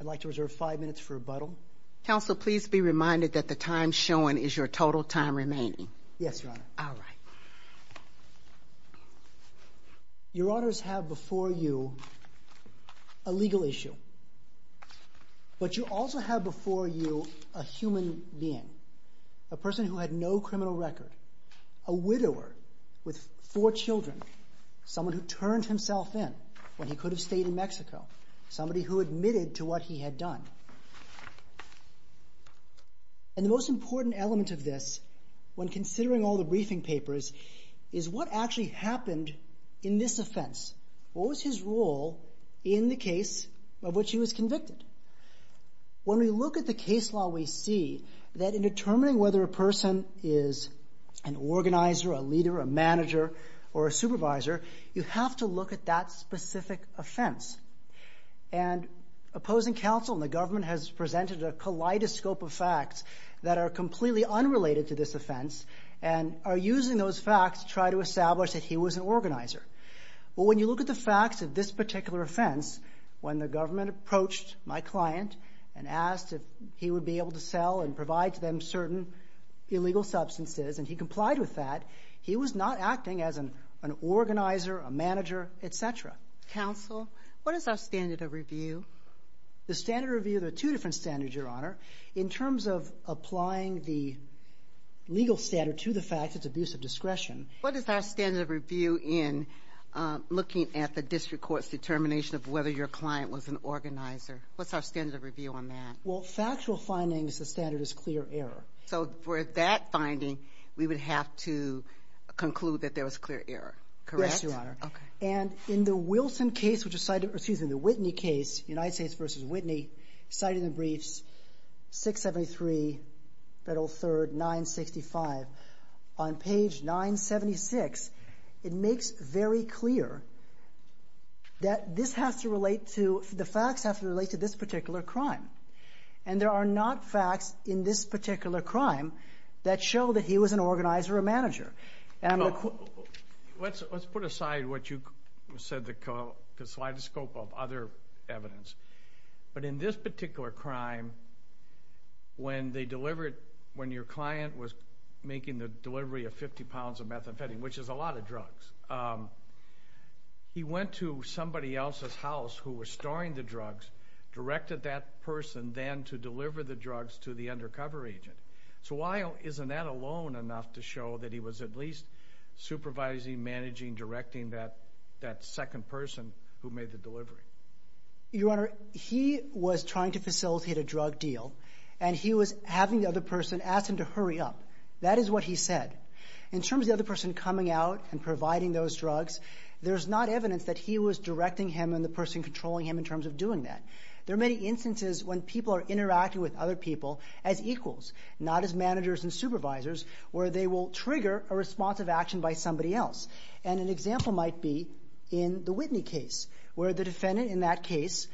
I'd like to reserve five minutes for rebuttal. Counsel, please be reminded that the time shown is your total time remaining. Yes, Your Honor. All right. Your Honors have before you a legal issue, but you also have before you a human being, a person who had no criminal record, a widower with four children, someone who turned himself in when he could have stayed in Mexico, somebody who admitted to what he had done. And the most important element of this, when considering all the briefing papers, is what actually happened in this offense. What was his role in the case of which he was convicted? When we look at the case law, we see that in determining whether a person is an organizer, a leader, a manager, or a supervisor, you have to look at that specific offense. And opposing counsel and the government has presented a kaleidoscope of facts that are completely unrelated to this offense and are using those facts to try to establish that he was an organizer. Well, when you look at the facts of this particular offense, when the government approached my client and asked if he would be able to sell and provide to them certain illegal substances and he complied with that, he was not acting as an organizer, a manager, et cetera. Counsel, what is our standard of review? The standard review, there are two different standards, Your Honor. In terms of applying the legal standard to the fact it's abuse of discretion. What is our standard of review in looking at the district court's determination of whether your client was an organizer? What's our standard of review on that? Well, factual findings, the standard is clear error. So for that finding, we would have to conclude that there was clear error, correct? Yes, Your Honor. Okay. And in the Wilson case, which is cited or excuse me, the Whitney case, United States versus Whitney, cited in the briefs, 673 Federal 3rd, 965. On page 976, it makes very clear that this has to relate to, the facts have to relate to this particular crime. And there are not facts in this particular crime that show that he was an organizer or manager. Let's put aside what you said, the kaleidoscope of other evidence. But in this particular crime, when your client was making the delivery of 50 pounds of methamphetamine, which is a lot of drugs, he went to somebody else's house who was storing the drugs, directed that person then to deliver the drugs to the undercover agent. So isn't that alone enough to show that he was at least supervising, managing, directing that second person who made the delivery? Your Honor, he was trying to facilitate a drug deal, and he was having the other person ask him to hurry up. That is what he said. In terms of the other person coming out and providing those drugs, there's not evidence that he was directing him and the person controlling him in terms of doing that. There are many instances when people are interacting with other people as equals, not as managers and supervisors, where they will trigger a response of action by somebody else. And an example might be in the Whitney case, where the defendant in that case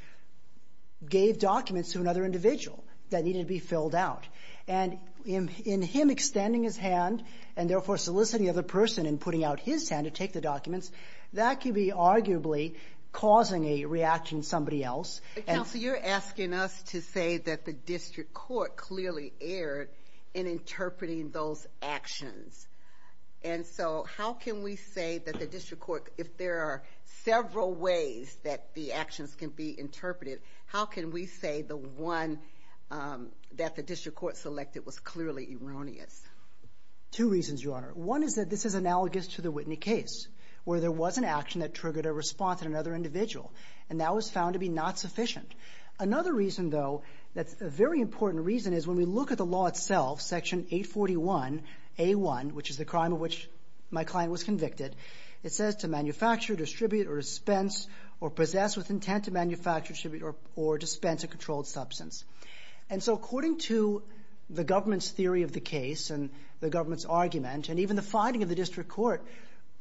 gave documents to another individual that needed to be filled out. And in him extending his hand and therefore soliciting the other person in putting out his hand to take the documents, that could be arguably causing a reaction in somebody else. Counsel, you're asking us to say that the district court clearly erred in interpreting those actions. And so how can we say that the district court, if there are several ways that the actions can be interpreted, how can we say the one that the district court selected was clearly erroneous? Two reasons, Your Honor. One is that this is analogous to the Whitney case, where there was an action that triggered a response in another individual. And that was found to be not sufficient. Another reason, though, that's a very important reason, is when we look at the law itself, Section 841A1, which is the crime of which my client was convicted, it says to manufacture, distribute, or dispense or possess with intent to manufacture, distribute, or dispense a controlled substance. And so according to the government's theory of the case and the government's argument and even the finding of the district court,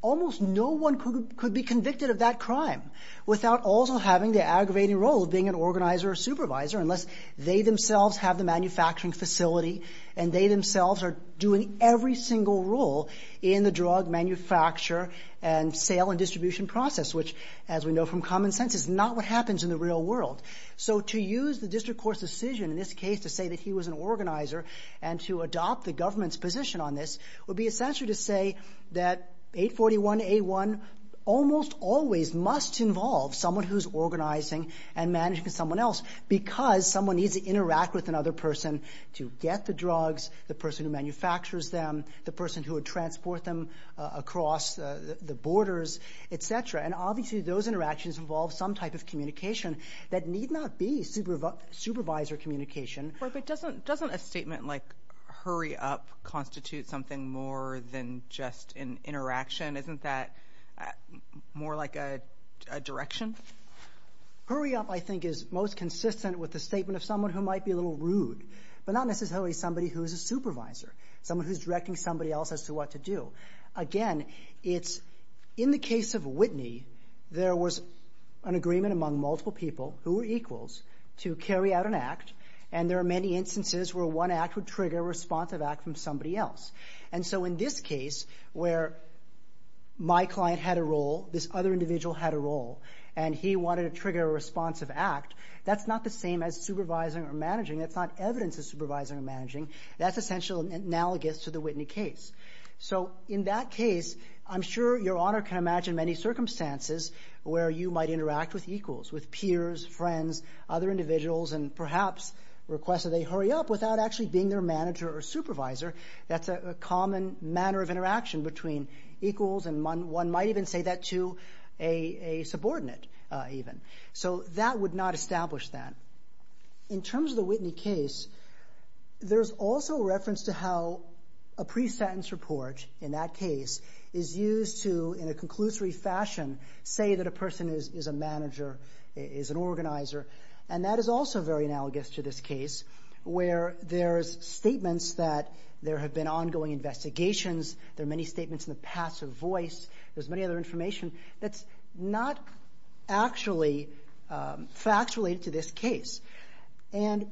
almost no one could be convicted of that crime without also having the aggravating role of being an organizer or supervisor, unless they themselves have the manufacturing facility and they themselves are doing every single role in the drug manufacture and sale and distribution process, which, as we know from common sense, is not what happens in the real world. So to use the district court's decision in this case to say that he was an organizer and to adopt the government's position on this would be essentially to say that 841A1 almost always must involve someone who's organizing and managing someone else because someone needs to interact with another person to get the drugs, the person who manufactures them, the person who would transport them across the borders, et cetera. And obviously those interactions involve some type of communication that need not be supervisor communication. But doesn't a statement like hurry up constitute something more than just an interaction? Isn't that more like a direction? Hurry up, I think, is most consistent with the statement of someone who might be a little rude, but not necessarily somebody who's a supervisor, someone who's directing somebody else as to what to do. Again, it's in the case of Whitney, there was an agreement among multiple people who were equals to carry out an act, and there are many instances where one act would trigger a responsive act from somebody else. And so in this case where my client had a role, this other individual had a role, and he wanted to trigger a responsive act, that's not the same as supervising or managing. That's not evidence of supervising or managing. That's essentially analogous to the Whitney case. So in that case, I'm sure Your Honor can imagine many circumstances where you might interact with equals, with peers, friends, other individuals, and perhaps request that they hurry up without actually being their manager or supervisor. That's a common manner of interaction between equals, and one might even say that to a subordinate even. So that would not establish that. In terms of the Whitney case, there's also reference to how a pre-sentence report in that case is used to, in a conclusory fashion, say that a person is a manager, is an organizer. And that is also very analogous to this case where there's statements that there have been ongoing investigations, there are many statements in the passive voice, there's many other information that's not actually factually to this case. And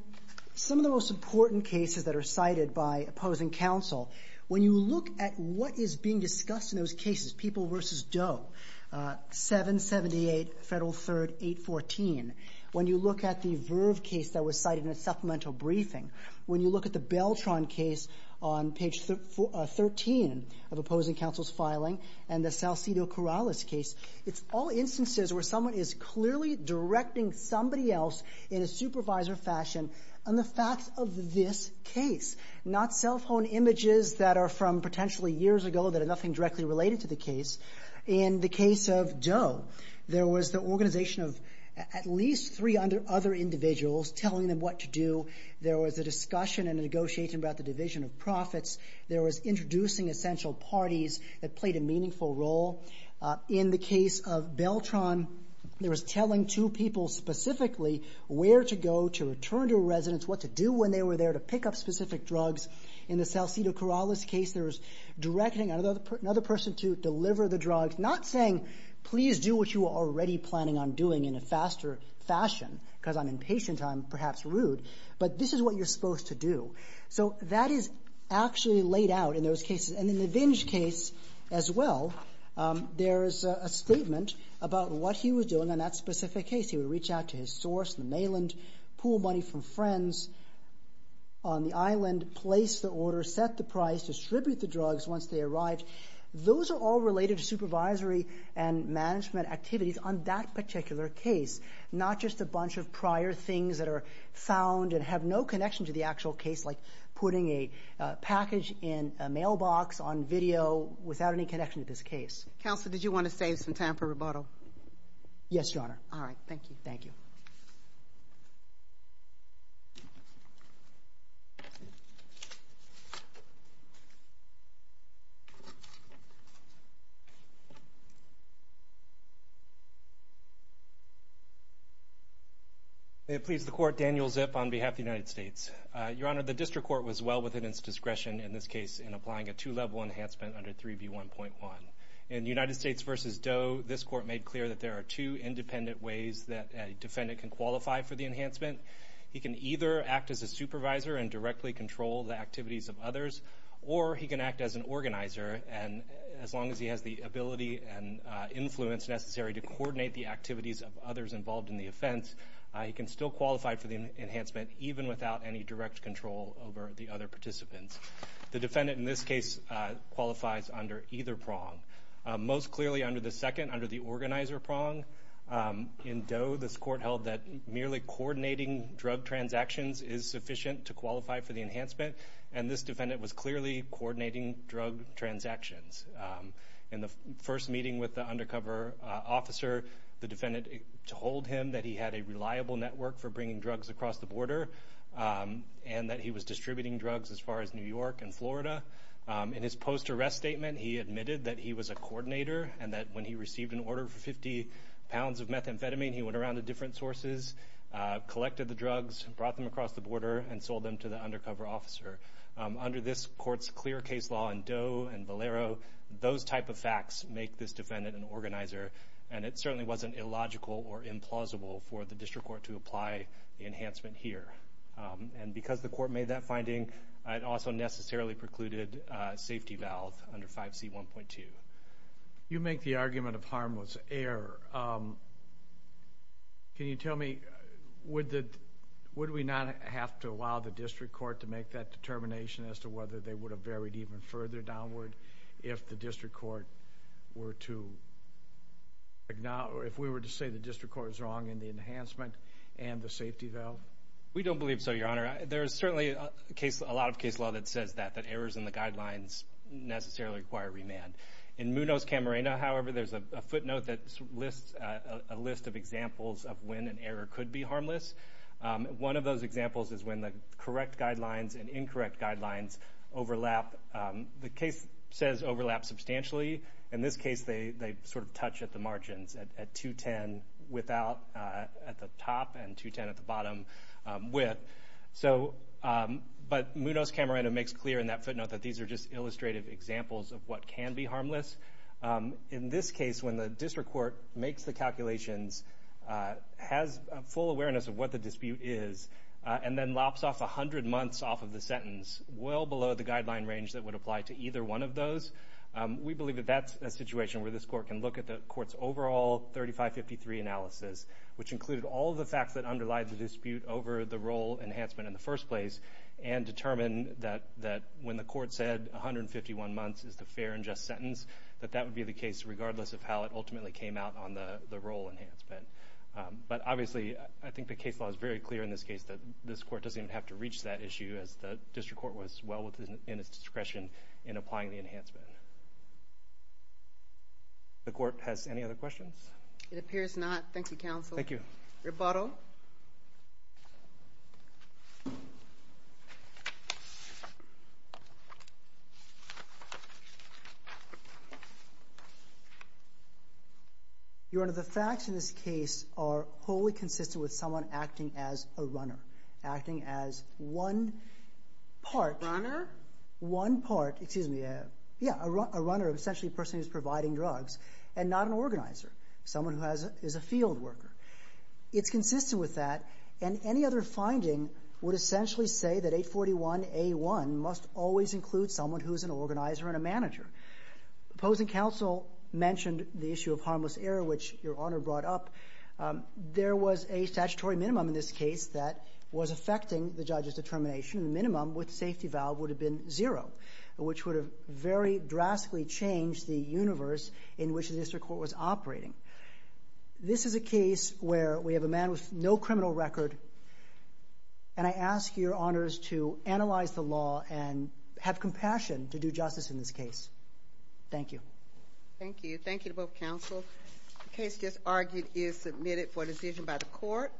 some of the most important cases that are cited by opposing counsel, when you look at what is being discussed in those cases, People v. Doe, 778 Federal 3rd 814, when you look at the Verve case that was cited in a supplemental briefing, when you look at the Beltron case on page 13 of opposing counsel's filing, and the Salcido-Corrales case, it's all instances where someone is clearly directing somebody else in a supervisor fashion on the nothing directly related to the case. In the case of Doe, there was the organization of at least three other individuals telling them what to do. There was a discussion and a negotiation about the division of profits. There was introducing essential parties that played a meaningful role. In the case of Beltron, there was telling two people specifically where to go to return to a residence, what to do when they were there to pick up specific drugs. In the Salcido-Corrales case, there was directing another person to deliver the drugs, not saying please do what you were already planning on doing in a faster fashion, because I'm impatient, I'm perhaps rude, but this is what you're supposed to do. So that is actually laid out in those cases. And in the Vinge case as well, there is a statement about what he was doing in that specific case. He would reach out to his source, the mainland, pool money from friends on the island, place the order, set the price, distribute the drugs once they arrived. Those are all related to supervisory and management activities on that particular case, not just a bunch of prior things that are found and have no connection to the actual case, like putting a package in a mailbox on video without any connection to this case. Counselor, did you want to save some time for rebuttal? Yes, Your Honor. All right. Thank you. Thank you. May it please the Court, Daniel Zip on behalf of the United States. Your Honor, the District Court was well within its discretion in this case in applying a two-level enhancement under 3B1.1. In United States v. Doe, this Court made clear that there are two independent ways that a defendant can qualify for the enhancement. He can either act as a supervisor and directly control the activities of others, or he can act as an organizer. And as long as he has the ability and influence necessary to coordinate the activities of others involved in the offense, he can still qualify for the enhancement even without any direct control over the other participants. The defendant in this case qualifies under either prong. Most clearly under the second, under the organizer prong. In Doe, this Court held that merely coordinating drug transactions is sufficient to qualify for the enhancement, and this defendant was clearly coordinating drug transactions. In the first meeting with the undercover officer, the defendant told him that he had a reliable network for bringing drugs across the border and that he was distributing drugs as far as New York and Florida. In his post-arrest statement, he admitted that he was a coordinator and that when he received an order for 50 pounds of methamphetamine, he went around to different sources, collected the drugs, brought them across the border, and sold them to the undercover officer. Under this Court's clear case law in Doe and Valero, those type of facts make this defendant an organizer, and it certainly wasn't illogical or implausible for the District Court to apply the enhancement here. And because the Court made that finding, it also necessarily precluded safety valve under 5C1.2. You make the argument of harm was error. Can you tell me, would we not have to allow the District Court to make that determination as to whether they would have varied even further downward if the District Court were to acknowledge, if we were to say the District Court is wrong in the enhancement and the safety valve? We don't believe so, Your Honor. There is certainly a lot of case law that says that, that errors in the guidelines necessarily require remand. In Munoz-Camarena, however, there's a footnote that lists a list of examples of when an error could be harmless. One of those examples is when the correct guidelines and incorrect guidelines overlap. The case says overlap substantially. In this case, they sort of touch at the margins, at 210 at the top and 210 at the bottom width. But Munoz-Camarena makes clear in that footnote that these are just illustrative examples of what can be harmless. In this case, when the District Court makes the calculations, has full awareness of what the dispute is, and then lops off 100 months off of the sentence, well below the guideline range that would apply to either one of those, we believe that that's a situation where this Court can look at the Court's overall 3553 analysis, which included all of the facts that underlie the dispute over the role enhancement in the first place, and determine that when the Court said 151 months is the fair and just sentence, that that would be the case regardless of how it ultimately came out on the role enhancement. But obviously, I think the case law is very clear in this case that this Court doesn't even have to The Court has any other questions? It appears not. Thank you, Counsel. Thank you. Rebuttal. Your Honor, the facts in this case are wholly consistent with someone acting as a runner, acting as one part. Runner? One part. Excuse me. Yeah, a runner, essentially a person who's providing drugs, and not an organizer, someone who is a field worker. It's consistent with that, and any other finding would essentially say that 841A1 must always include someone who is an organizer and a manager. The opposing counsel mentioned the issue of harmless error, which Your Honor brought up. There was a statutory minimum in this case that was affecting the judge's determination. The minimum with safety valve would have been zero, which would have very drastically changed the universe in which the District Court was operating. This is a case where we have a man with no criminal record, and I ask Your Honors to analyze the law and have compassion to do justice in this case. Thank you. Thank you. Thank you to both counsel. The case just argued is submitted for decision by the Court.